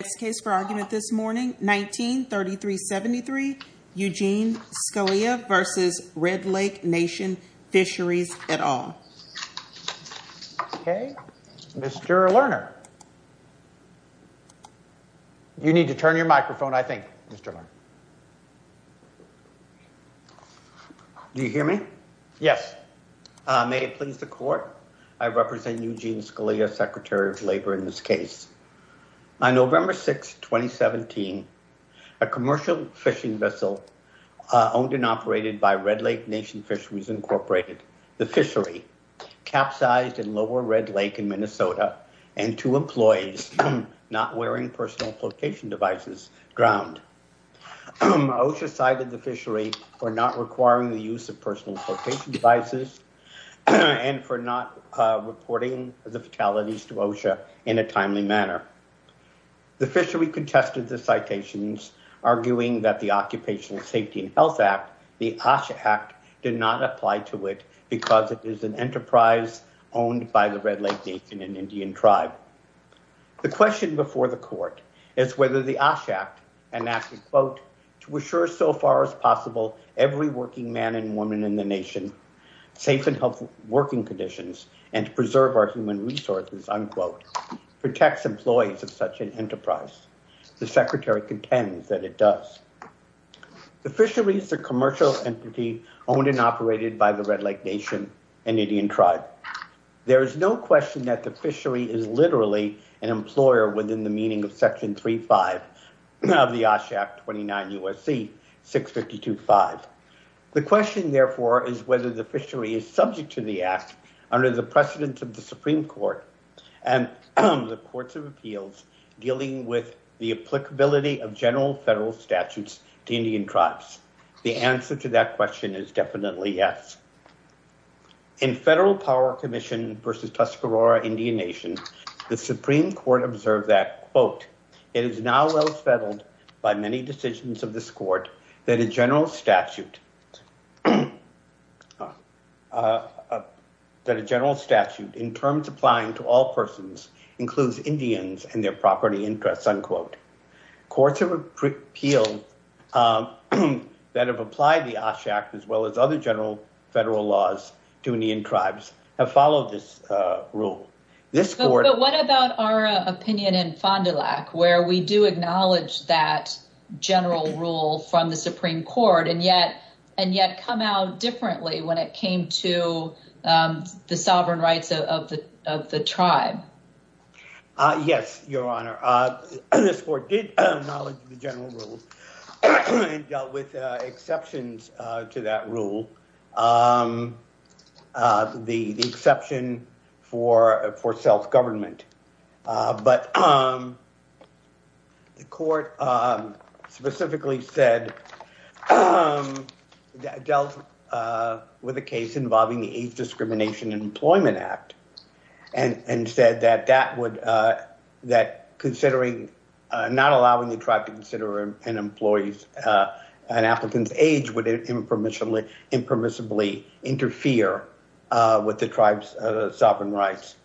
Next case for argument this morning, 19-3373, Eugene Scalia v. Red Lake Nation Fisheries, et al. Okay, Mr. Lerner. You need to turn your microphone, I think, Mr. Lerner. You hear me? Yes. May it please the court, I represent Eugene Scalia, Secretary of Labor, in this case. On November 6, 2017, a commercial fishing vessel owned and operated by Red Lake Nation Fisheries, Inc., the fishery, capsized in Lower Red Lake in Minnesota, and two employees not wearing personal flotation devices drowned. OSHA cited the fishery for not requiring the use of personal flotation devices and for not reporting the fatalities to OSHA in a timely manner. The fishery contested the citations, arguing that the Occupational Safety and Health Act, the OSHA Act, did not apply to it because it is an enterprise owned by the Red Lake Nation, an Indian tribe. The question before the court is whether the OSHA Act, an act that, quote, to assure so far as possible every working man and woman in the nation safe and healthy working conditions and to preserve our human resources, unquote, protects employees of such an enterprise. The secretary contends that it does. The fishery is a commercial entity owned and operated by the Red Lake Nation, an Indian tribe. There is no question that the fishery is literally an employer within the meaning of Section 3.5 of the OSHA Act 29 U.S.C. 652.5. The question, therefore, is whether the fishery is subject to the act under the precedence of the Supreme Court and the courts of appeals dealing with the applicability of general federal statutes to Indian tribes. The answer to that question is definitely yes. In Federal Power Commission versus Tuscarora Indian Nation, the Supreme Court observed that, quote, it is now well settled by many decisions of this court that a general statute in terms applying to all persons includes Indians and their property interests, unquote. Courts of appeal that have applied the OSHA Act as well as other general federal laws to Indian tribes have followed this rule. But what about our opinion in Fond du Lac where we do acknowledge that general rule from the Supreme Court and yet come out differently when it came to the sovereign rights of the tribe? Yes, Your Honor. This court did acknowledge the general rule and dealt with exceptions to that rule, the exception for self-government. But the court specifically dealt with a case involving the Age Discrimination Employment Act and said that not allowing the tribe to consider an applicant's age would impermissibly interfere with the tribe's sovereign rights.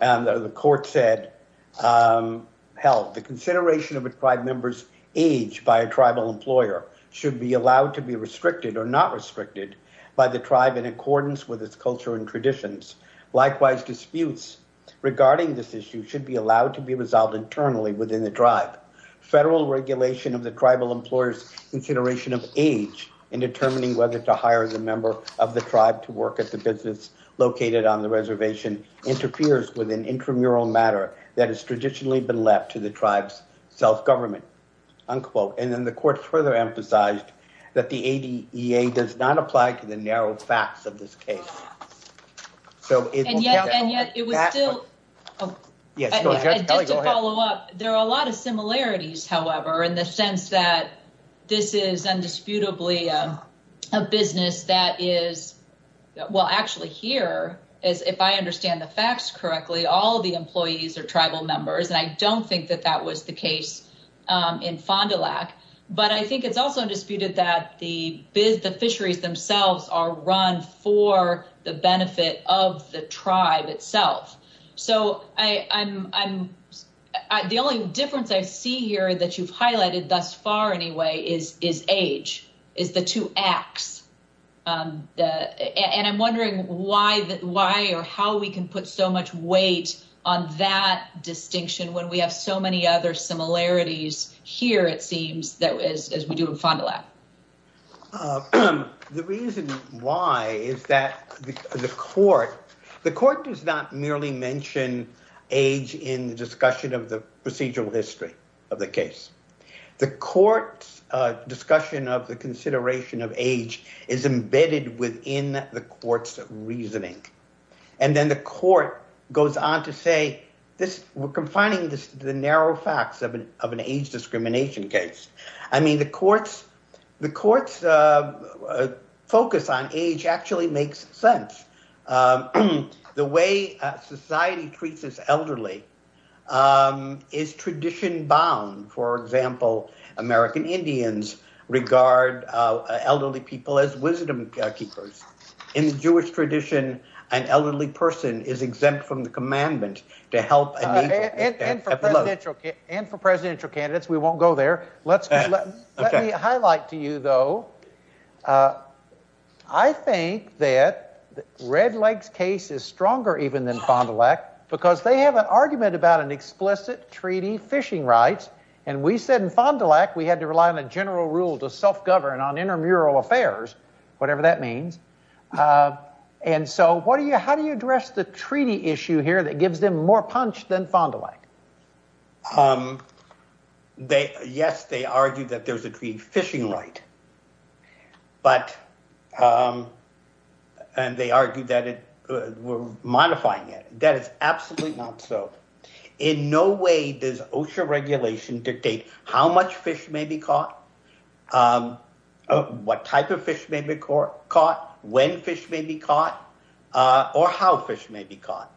And the court said, held, the consideration of a tribe member's age by a tribal employer should be allowed to be restricted or not restricted by the tribe in accordance with its culture and traditions. Likewise, disputes regarding this issue should be allowed to be resolved internally within the tribe. Federal regulation of the tribal employer's consideration of age in determining whether to hire the member of the tribe to work at the business located on the reservation interferes with an intramural matter that has traditionally been left to the tribe's self-government. And then the court further emphasized that the ADA does not apply to the narrow facts of this case. And yet it was still, just to follow up, there are a lot of similarities, however, in the sense that this is indisputably a business that is, well, actually here, if I understand the facts correctly, all of the employees are tribal members, and I don't think that that was the case in Fond du Lac. But I think it's also undisputed that the fisheries themselves are run for the benefit of the tribe itself. So the only difference I see here that you've highlighted thus far anyway is age, is the two acts. And I'm wondering why or how we can put so much weight on that distinction when we have so many other similarities here, it seems, as we do in Fond du Lac. The reason why is that the court, the court does not merely mention age in the discussion of the procedural history of the case. The court's discussion of the consideration of age is embedded within the court's reasoning. And then the court goes on to say, we're confining the narrow facts of an age discrimination case. I mean, the court's focus on age actually makes sense. The way society treats its elderly is tradition-bound. For example, American Indians regard elderly people as wisdom keepers. In the Jewish tradition, an elderly person is exempt from the commandment to help a native. And for presidential candidates, we won't go there. Let me highlight to you, though. I think that Red Lake's case is stronger even than Fond du Lac because they have an argument about an explicit treaty fishing rights. And we said in Fond du Lac we had to rely on a general rule to self-govern on intramural affairs, whatever that means. And so what do you how do you address the treaty issue here that gives them more punch than Fond du Lac? Yes, they argue that there's a treaty fishing right, but they argue that we're modifying it. That is absolutely not so. In no way does OSHA regulation dictate how much fish may be caught, what type of fish may be caught, when fish may be caught, or how fish may be caught.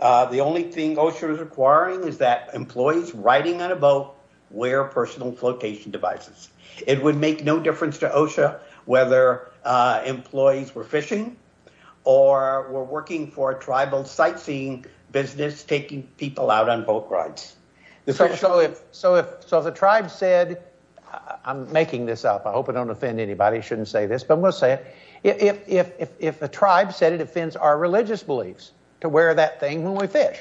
The only thing OSHA is requiring is that employees riding on a boat wear personal flotation devices. It would make no difference to OSHA whether employees were fishing or were working for a tribal sightseeing business taking people out on boat rides. So if the tribe said, I'm making this up, I hope I don't offend anybody, I shouldn't say this, but I'm going to say it. If the tribe said it offends our religious beliefs to wear that thing when we fish,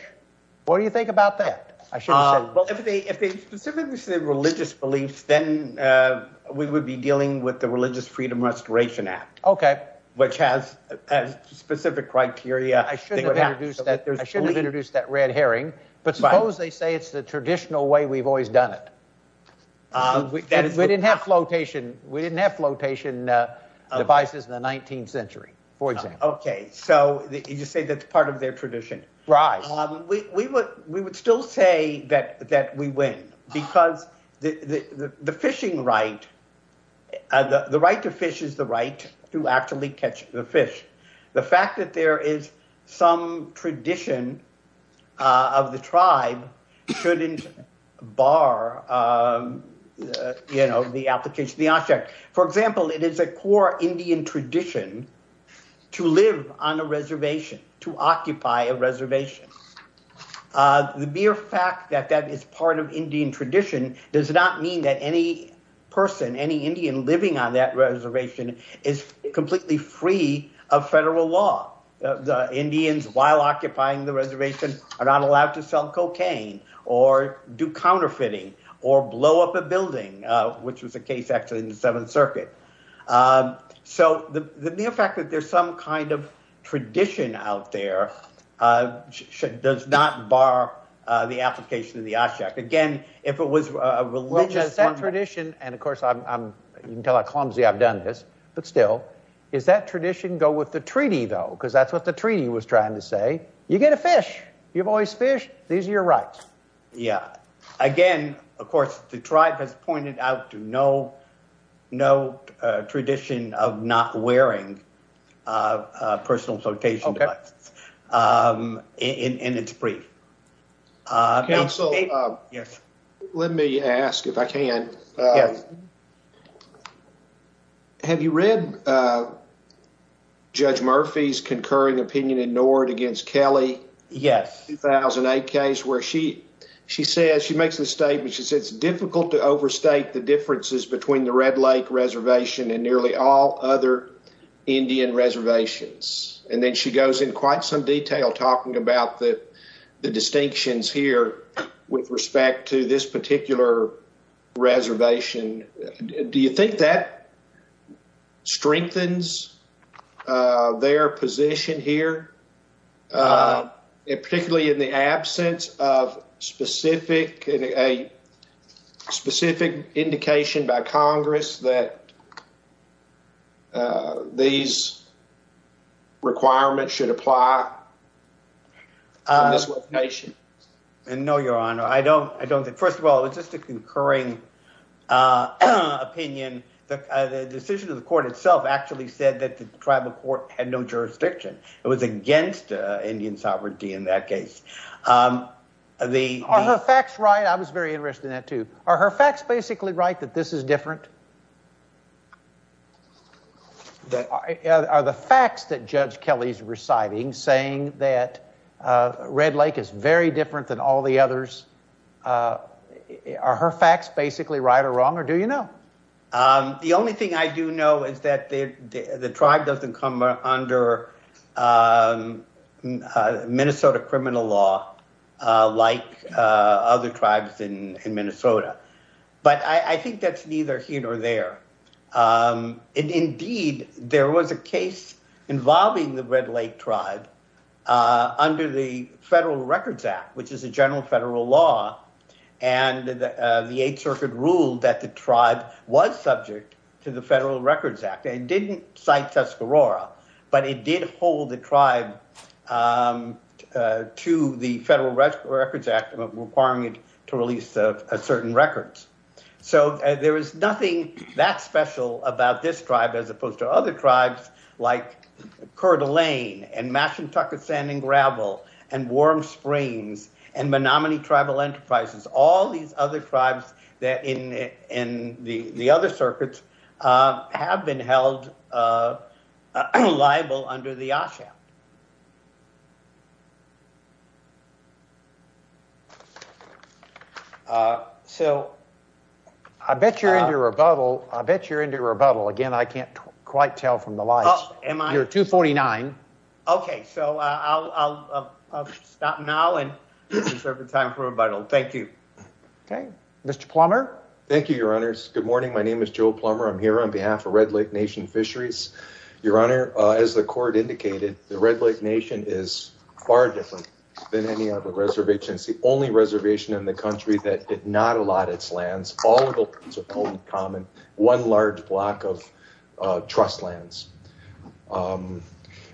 what do you think about that? Well, if they specifically said religious beliefs, then we would be dealing with the Religious Freedom Restoration Act, which has specific criteria. I shouldn't have introduced that red herring, but suppose they say it's the traditional way we've always done it. We didn't have flotation devices in the 19th century, for example. Okay, so you say that's part of their tradition. Right. We would still say that we win, because the fishing right, the right to fish is the right to actually catch the fish. The fact that there is some tradition of the tribe shouldn't bar the application of the OSHA Act. For example, it is a core Indian tradition to live on a reservation, to occupy a reservation. The mere fact that that is part of Indian tradition does not mean that any person, any Indian living on that reservation is completely free of federal law. The Indians, while occupying the reservation, are not allowed to sell cocaine or do counterfeiting or blow up a building, which was a case actually in the Seventh Circuit. So the mere fact that there's some kind of tradition out there does not bar the application of the OSHA Act. Again, if it was a religious— Well, just that tradition—and, of course, you can tell how clumsy I've done this, but still—is that tradition go with the treaty, though? Because that's what the treaty was trying to say. You get to fish. You've always fished. These are your rights. Yeah. Again, of course, the tribe has pointed out to no tradition of not wearing personal quotation marks in its brief. Counsel, let me ask, if I can. Yes. Have you read Judge Murphy's concurring opinion ignored against Kelly? Yes. In that 2008 case where she says—she makes the statement—she says, it's difficult to overstate the differences between the Red Lake Reservation and nearly all other Indian reservations. And then she goes in quite some detail talking about the distinctions here with respect to this particular reservation. Do you think that strengthens their position here, particularly in the absence of specific—a specific indication by Congress that these requirements should apply to this reservation? No, Your Honor. I don't think—first of all, it was just a concurring opinion. The decision of the court itself actually said that the tribal court had no jurisdiction. It was against Indian sovereignty in that case. Are her facts right? I was very interested in that, too. Are her facts basically right that this is different? Are the facts that Judge Kelly's reciting saying that Red Lake is very different than all the others—are her facts basically right or wrong, or do you know? The only thing I do know is that the tribe doesn't come under Minnesota criminal law like other tribes in Minnesota. But I think that's neither here nor there. Indeed, there was a case involving the Red Lake tribe under the Federal Records Act, which is a general federal law, and the Eighth Circuit ruled that the tribe was subject to the Federal Records Act. It didn't cite Tuscarora, but it did hold the tribe to the Federal Records Act requiring it to release certain records. So there is nothing that special about this tribe as opposed to other tribes like Coeur d'Alene and Mashantucket Sand and Gravel and Warm Springs and Menominee Tribal Enterprises. All these other tribes in the other circuits have been held liable under the OSHA Act. I bet you're into rebuttal. I bet you're into rebuttal. Again, I can't quite tell from the lights. Oh, am I? You're 249. Okay, so I'll stop now and reserve the time for rebuttal. Thank you. Okay, Mr. Plummer. Thank you, Your Honors. Good morning. My name is Joe Plummer. I'm here on behalf of Red Lake Nation Fisheries. Your Honor, as the court indicated, the Red Lake Nation is far different than any other reservation. It's the only reservation in the country that did not allot its lands. All of the lands are common, one large block of trust lands.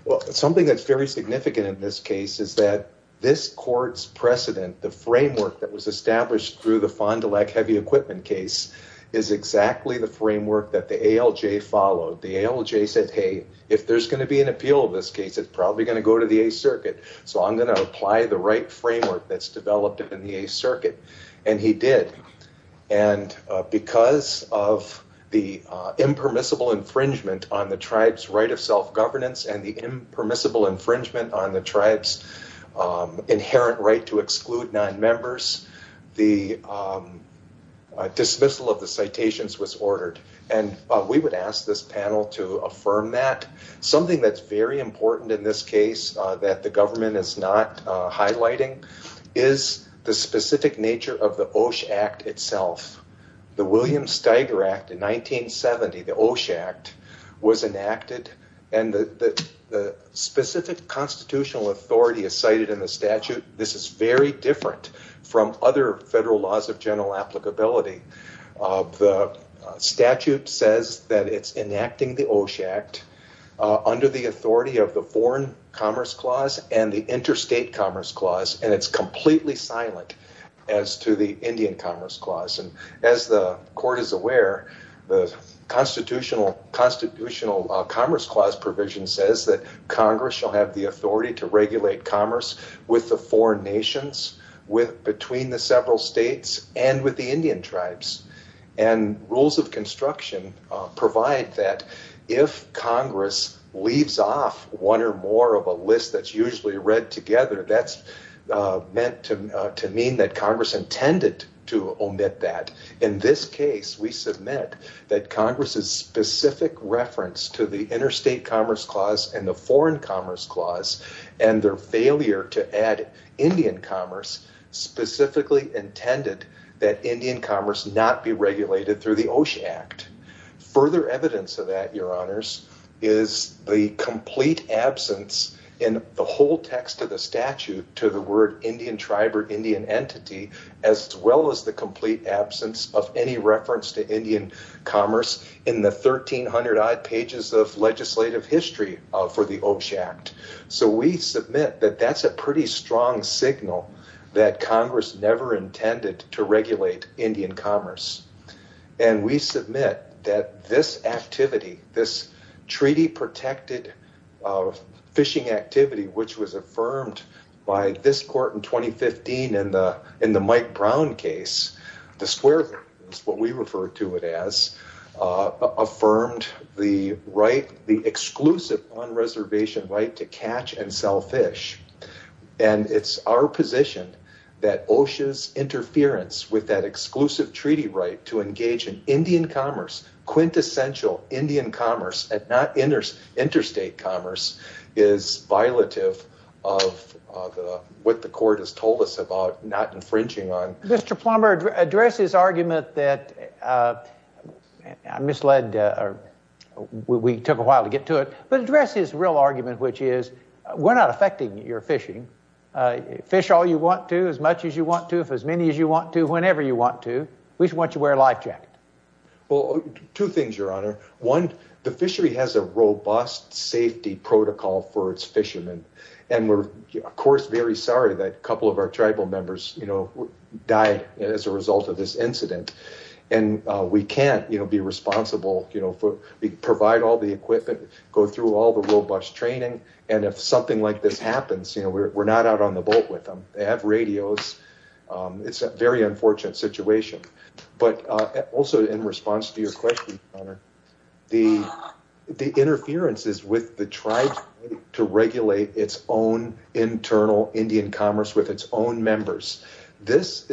Well, something that's very significant in this case is that this court's precedent, the framework that was established through the Fond du Lac heavy equipment case, is exactly the framework that the ALJ followed. The ALJ said, hey, if there's going to be an appeal of this case, it's probably going to go to the 8th Circuit. So I'm going to apply the right framework that's developed in the 8th Circuit. And he did. And because of the impermissible infringement on the tribe's right of self-governance and the impermissible infringement on the tribe's inherent right to exclude nonmembers, the dismissal of the citations was ordered. And we would ask this panel to affirm that. Something that's very important in this case that the government is not highlighting is the specific nature of the OSH Act itself. The William Steiger Act in 1970, the OSH Act, was enacted. And the specific constitutional authority is cited in the statute. This is very different from other federal laws of general applicability. The statute says that it's enacting the OSH Act under the authority of the Foreign Commerce Clause and the Interstate Commerce Clause. And it's completely silent as to the Indian Commerce Clause. And as the Court is aware, the Constitutional Commerce Clause provision says that Congress shall have the authority to regulate commerce with the four nations, between the several states, and with the Indian tribes. And rules of construction provide that if Congress leaves off one or more of a list that's usually read together, that's meant to mean that Congress intended to omit that. In this case, we submit that Congress's specific reference to the Interstate Commerce Clause and the Foreign Commerce Clause and their failure to add Indian commerce specifically intended that Indian commerce not be regulated through the OSH Act. Further evidence of that, Your Honors, is the complete absence in the whole text of the statute to the word Indian tribe or Indian entity, as well as the complete absence of any reference to Indian commerce in the 1,300-odd pages of legislative history for the OSH Act. So we submit that that's a pretty strong signal that Congress never intended to regulate Indian commerce. And we submit that this activity, this treaty-protected fishing activity, which was affirmed by this Court in 2015 in the Mike Brown case, the Square Gardens, what we refer to it as, affirmed the exclusive on-reservation right to catch and sell fish. And it's our position that OSHA's interference with that exclusive treaty right to engage in Indian commerce, quintessential Indian commerce, and not interstate commerce, is violative of what the Court has told us about not infringing on... Mr. Plummer, address his argument that I misled...we took a while to get to it, but address his real argument, which is we're not affecting your fishing. Fish all you want to, as much as you want to, if as many as you want to, whenever you want to. We just want you to wear a life jacket. Well, two things, Your Honor. One, the fishery has a robust safety protocol for its fishermen. And we're, of course, very sorry that a couple of our tribal members died as a result of this incident. And we can't be responsible, provide all the equipment, go through all the robust training. And if something like this happens, we're not out on the boat with them. They have radios. It's a very unfortunate situation. But also in response to your question, Your Honor, the interferences with the tribes to regulate its own internal Indian commerce with its own members. This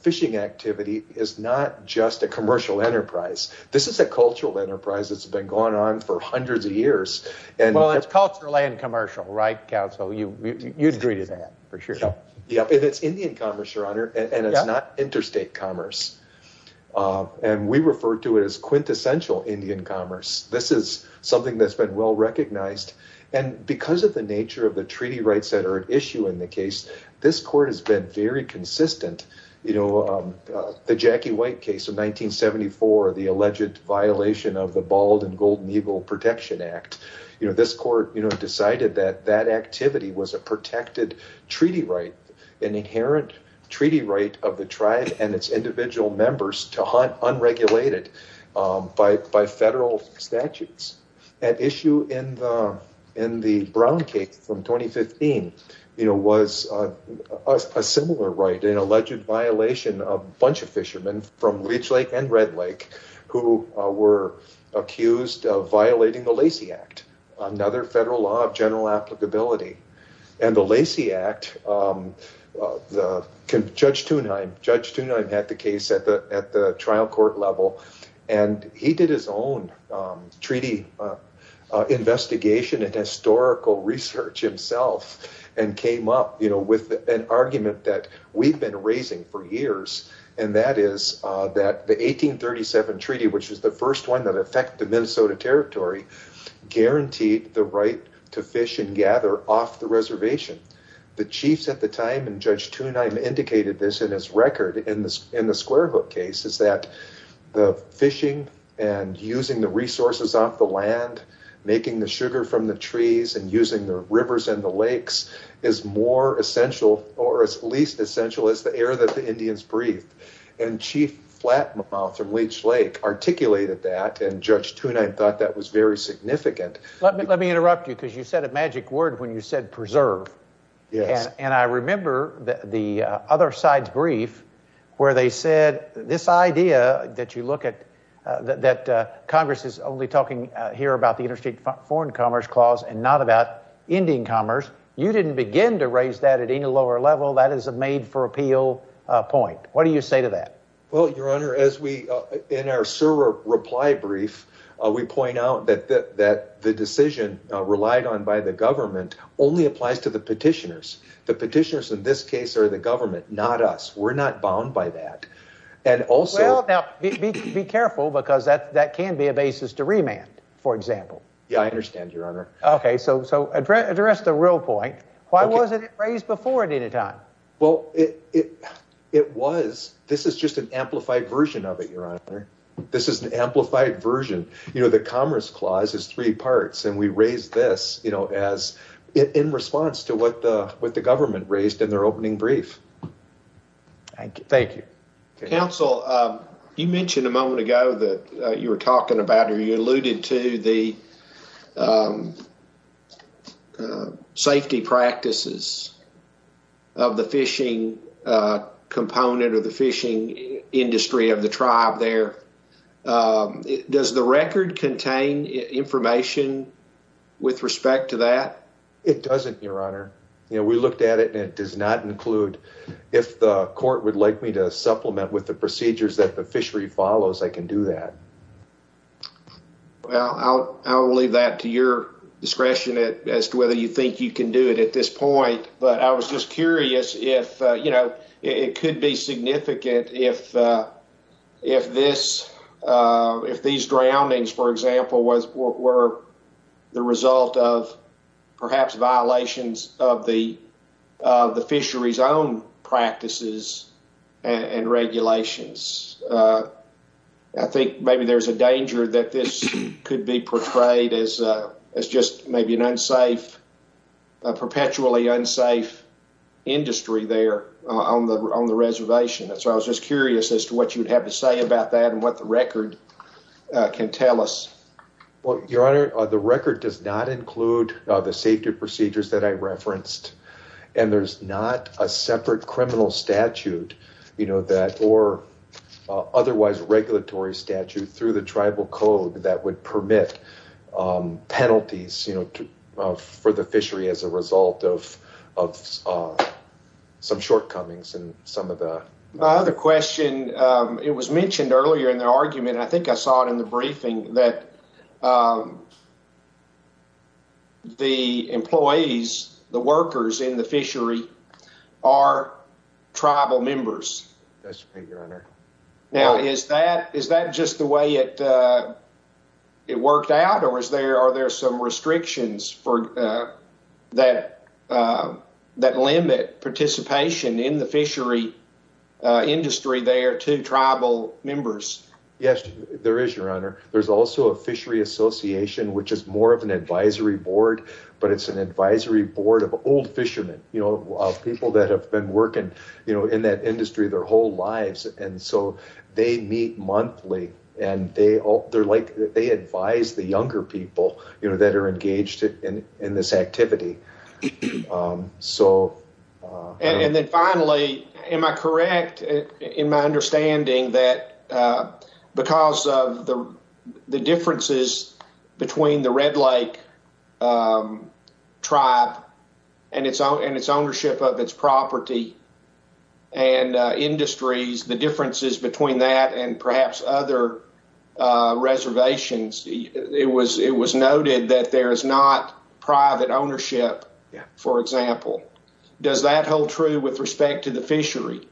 fishing activity is not just a commercial enterprise. This is a cultural enterprise that's been going on for hundreds of years. Well, it's cultural and commercial, right, Counsel? You'd agree to that, for sure. It's Indian commerce, Your Honor, and it's not interstate commerce. And we refer to it as quintessential Indian commerce. This is something that's been well recognized. And because of the nature of the treaty rights that are at issue in the case, this court has been very consistent. You know, the Jackie White case of 1974, the alleged violation of the Bald and Golden Eagle Protection Act. This court decided that that activity was a protected treaty right, an inherent treaty right of the tribe and its individual members to hunt unregulated by federal statutes. An issue in the Brown case from 2015 was a similar right, an alleged violation of a bunch of fishermen from Leech Lake and Red Lake who were accused of violating the Lacey Act, another federal law of general applicability. And the Lacey Act, Judge Thunheim had the case at the trial court level, and he did his own treaty investigation and historical research himself and came up with an argument that we've been raising for years. And that is that the 1837 treaty, which was the first one that affected Minnesota territory, guaranteed the right to fish and gather off the reservation. The chiefs at the time, and Judge Thunheim indicated this in his record in the Square Hook case, is that the fishing and using the resources off the land, making the sugar from the trees and using the rivers and the lakes is more essential or as least essential as the air that the Indians breathed. And Chief Flatmouth from Leech Lake articulated that, and Judge Thunheim thought that was very significant. Let me interrupt you because you said a magic word when you said preserve. Yes. And I remember the other side's brief where they said this idea that you look at that Congress is only talking here about the interstate foreign commerce clause and not about Indian commerce, you didn't begin to raise that at any lower level. That is a made for appeal point. What do you say to that? Well, your honor, as we in our server reply brief, we point out that the decision relied on by the government only applies to the petitioners. The petitioners in this case are the government, not us. We're not bound by that. And also, be careful because that can be a basis to remand, for example. Yeah, I understand, your honor. OK, so address the real point. Why wasn't it raised before at any time? Well, it was. This is just an amplified version of it, your honor. This is an amplified version. You know, the commerce clause is three parts, and we raised this, you know, as in response to what the government raised in their opening brief. Thank you. Thank you. Counsel, you mentioned a moment ago that you were talking about or you alluded to the safety practices of the fishing component or the fishing industry of the tribe there. Does the record contain information with respect to that? It doesn't, your honor. You know, we looked at it and it does not include if the court would like me to supplement with the procedures that the fishery follows, I can do that. Well, I'll leave that to your discretion as to whether you think you can do it at this point. But I was just curious if, you know, it could be significant if this, if these drownings, for example, were the result of perhaps violations of the fishery's own practices and regulations. I think maybe there's a danger that this could be portrayed as just maybe an unsafe, a perpetually unsafe industry there on the reservation. So I was just curious as to what you would have to say about that and what the record can tell us. Well, your honor, the record does not include the safety procedures that I referenced. And there's not a separate criminal statute, you know, that or otherwise regulatory statute through the tribal code that would permit penalties, you know, for the fishery as a result of some shortcomings in some of the. The question it was mentioned earlier in the argument, I think I saw it in the briefing that. The employees, the workers in the fishery are tribal members. Now, is that is that just the way it it worked out or is there are there some restrictions for that that limit participation in the fishery industry there to tribal members? Yes, there is, your honor. There's also a fishery association, which is more of an advisory board, but it's an advisory board of old fishermen, you know, people that have been working in that industry their whole lives. And so they meet monthly and they they're like they advise the younger people that are engaged in this activity. So and then finally, am I correct in my understanding that because of the differences between the Red Lake tribe and its own and its ownership of its property and industries, the differences between that and perhaps other reservations, it was it was noted that there is not private ownership, for example. Does that hold true with respect to the fishery?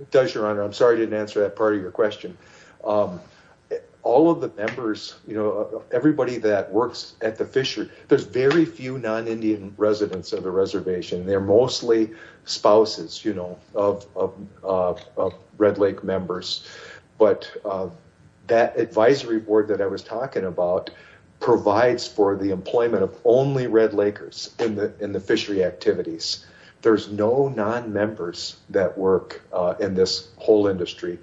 It does, your honor. I'm sorry I didn't answer that part of your question. All of the members, you know, everybody that works at the fishery, there's very few non-Indian residents of the reservation. They're mostly spouses, you know, of Red Lake members. But that advisory board that I was talking about provides for the employment of only Red Lakers in the fishery activities. There's no non-members that work in this whole industry.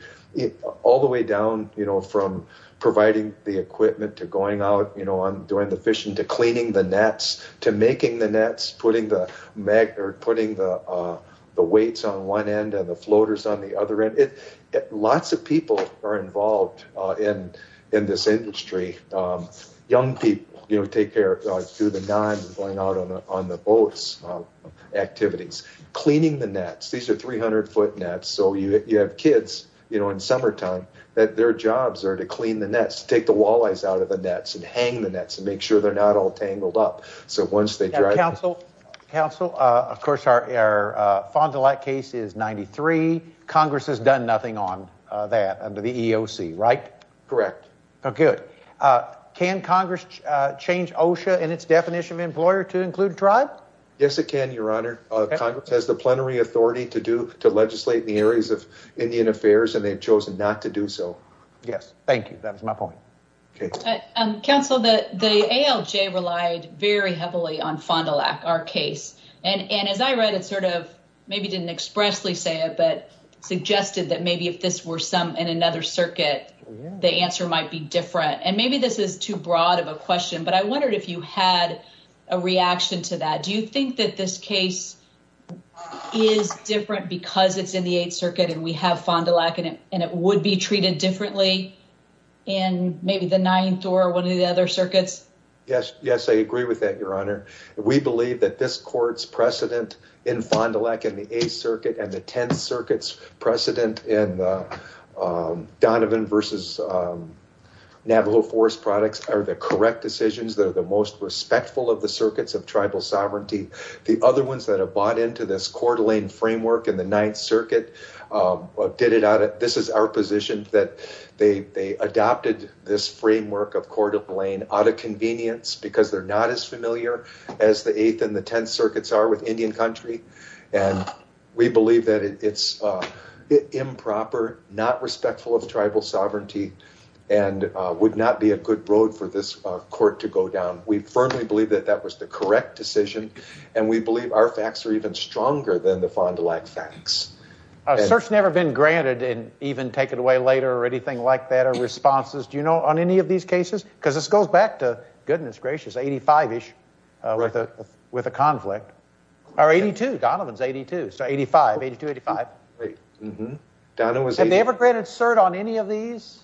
All the way down, you know, from providing the equipment to going out, you know, doing the fishing, to cleaning the nets, to making the nets, putting the mag or putting the weights on one end and the floaters on the other end. Lots of people are involved in in this industry. Young people, you know, take care through the nines and going out on the boats, activities, cleaning the nets. These are 300-foot nets. So you have kids, you know, in summertime that their jobs are to clean the nets, take the walleyes out of the nets and hang the nets and make sure they're not all tangled up. So once they drive... Counsel, counsel, of course, our Fond du Lac case is 93. Congress has done nothing on that under the EEOC, right? Correct. Good. Can Congress change OSHA and its definition of employer to include tribe? Yes, it can, your honor. Congress has the plenary authority to legislate in the areas of Indian affairs, and they've chosen not to do so. Yes, thank you. That is my point. Okay. Counsel, the ALJ relied very heavily on Fond du Lac, our case. And as I read it sort of maybe didn't expressly say it, but suggested that maybe if this were some in another circuit, the answer might be different. And maybe this is too broad of a question, but I wondered if you had a reaction to that. Do you think that this case is different because it's in the Eighth Circuit and we have Fond du Lac and it would be treated differently in maybe the Ninth or one of the other circuits? Yes. Yes, I agree with that, your honor. We believe that this court's precedent in Fond du Lac in the Eighth Circuit and the Tenth Circuit's precedent in Donovan versus Navajo Forest products are the correct decisions. They're the most respectful of the circuits of tribal sovereignty. The other ones that have bought into this Coeur d'Alene framework in the Ninth Circuit did it out of – this is our position that they adopted this framework of Coeur d'Alene out of convenience because they're not as familiar. As the Eighth and the Tenth Circuits are with Indian country and we believe that it's improper, not respectful of tribal sovereignty and would not be a good road for this court to go down. We firmly believe that that was the correct decision and we believe our facts are even stronger than the Fond du Lac facts. A cert's never been granted and even taken away later or anything like that or responses. Do you know on any of these cases? Because this goes back to, goodness gracious, 85-ish with a conflict. Or 82. Donovan's 82. So 85. 82, 85. Have they ever granted cert on any of these?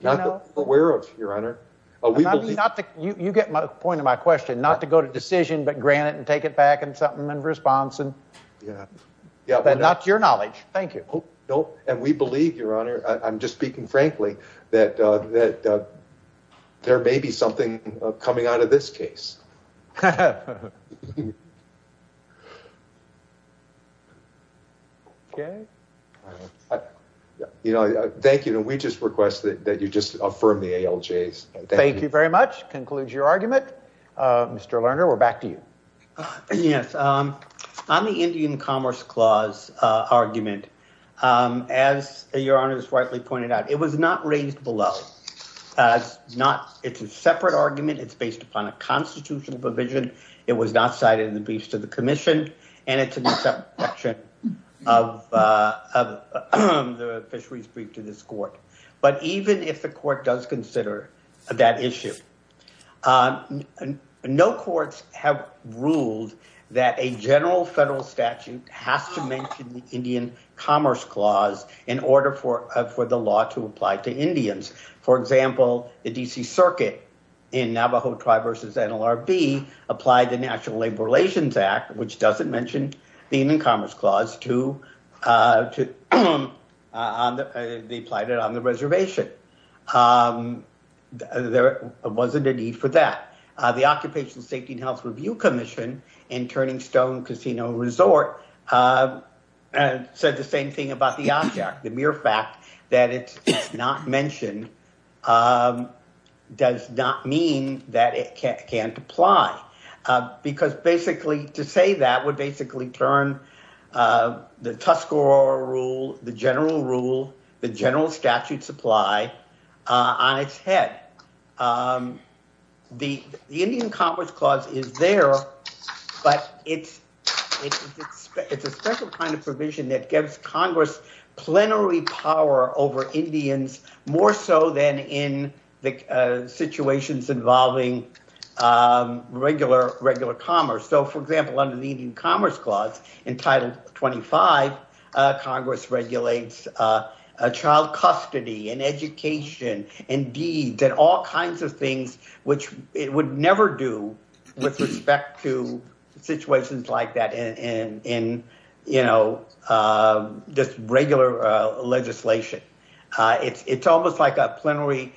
Not that we're aware of, your honor. You get the point of my question. Not to go to decision but grant it and take it back and something in response. Not to your knowledge. Thank you. And we believe, your honor, I'm just speaking frankly, that there may be something coming out of this case. Thank you. We just request that you just affirm the ALJs. Thank you very much. Concludes your argument. Mr. Lerner, we're back to you. Yes. On the Indian Commerce Clause argument, as your honor has rightly pointed out, it was not raised below. It's a separate argument. It's based upon a constitutional provision. It was not cited in the briefs to the commission. And it's an exception of the fisheries brief to this court. But even if the court does consider that issue, no courts have ruled that a general federal statute has to mention the Indian Commerce Clause in order for the law to apply to Indians. For example, the D.C. Circuit in Navajo Tribe v. NLRB applied the National Labor Relations Act, which doesn't mention the Indian Commerce Clause. They applied it on the reservation. There wasn't a need for that. The Occupational Safety and Health Review Commission in Turning Stone Casino Resort said the same thing about the object, the mere fact that it's not mentioned does not mean that it can't apply. Because basically to say that would basically turn the Tuscarora rule, the general rule, the general statute supply on its head. The Indian Commerce Clause is there, but it's a special kind of provision that gives Congress plenary power over Indians more so than in the situations involving regular commerce. So, for example, under the Indian Commerce Clause in Title 25, Congress regulates child custody and education and deeds and all kinds of things which it would never do with respect to situations like that in, you know, just regular legislation. It's almost like a plenary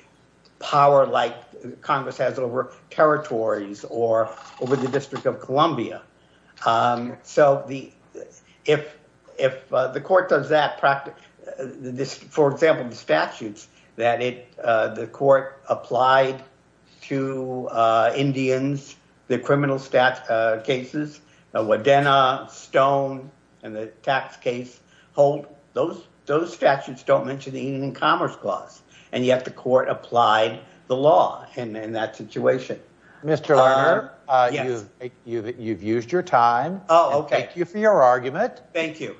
power like Congress has over territories or over the District of Columbia. So if the court does that, for example, the statutes that the court applied to Indians, the criminal cases, Wadena, Stone, and the tax case hold, those statutes don't mention the Indian Commerce Clause. And yet the court applied the law in that situation. Mr. Lerner, you've used your time. Oh, okay. Thank you for your argument. Thank you.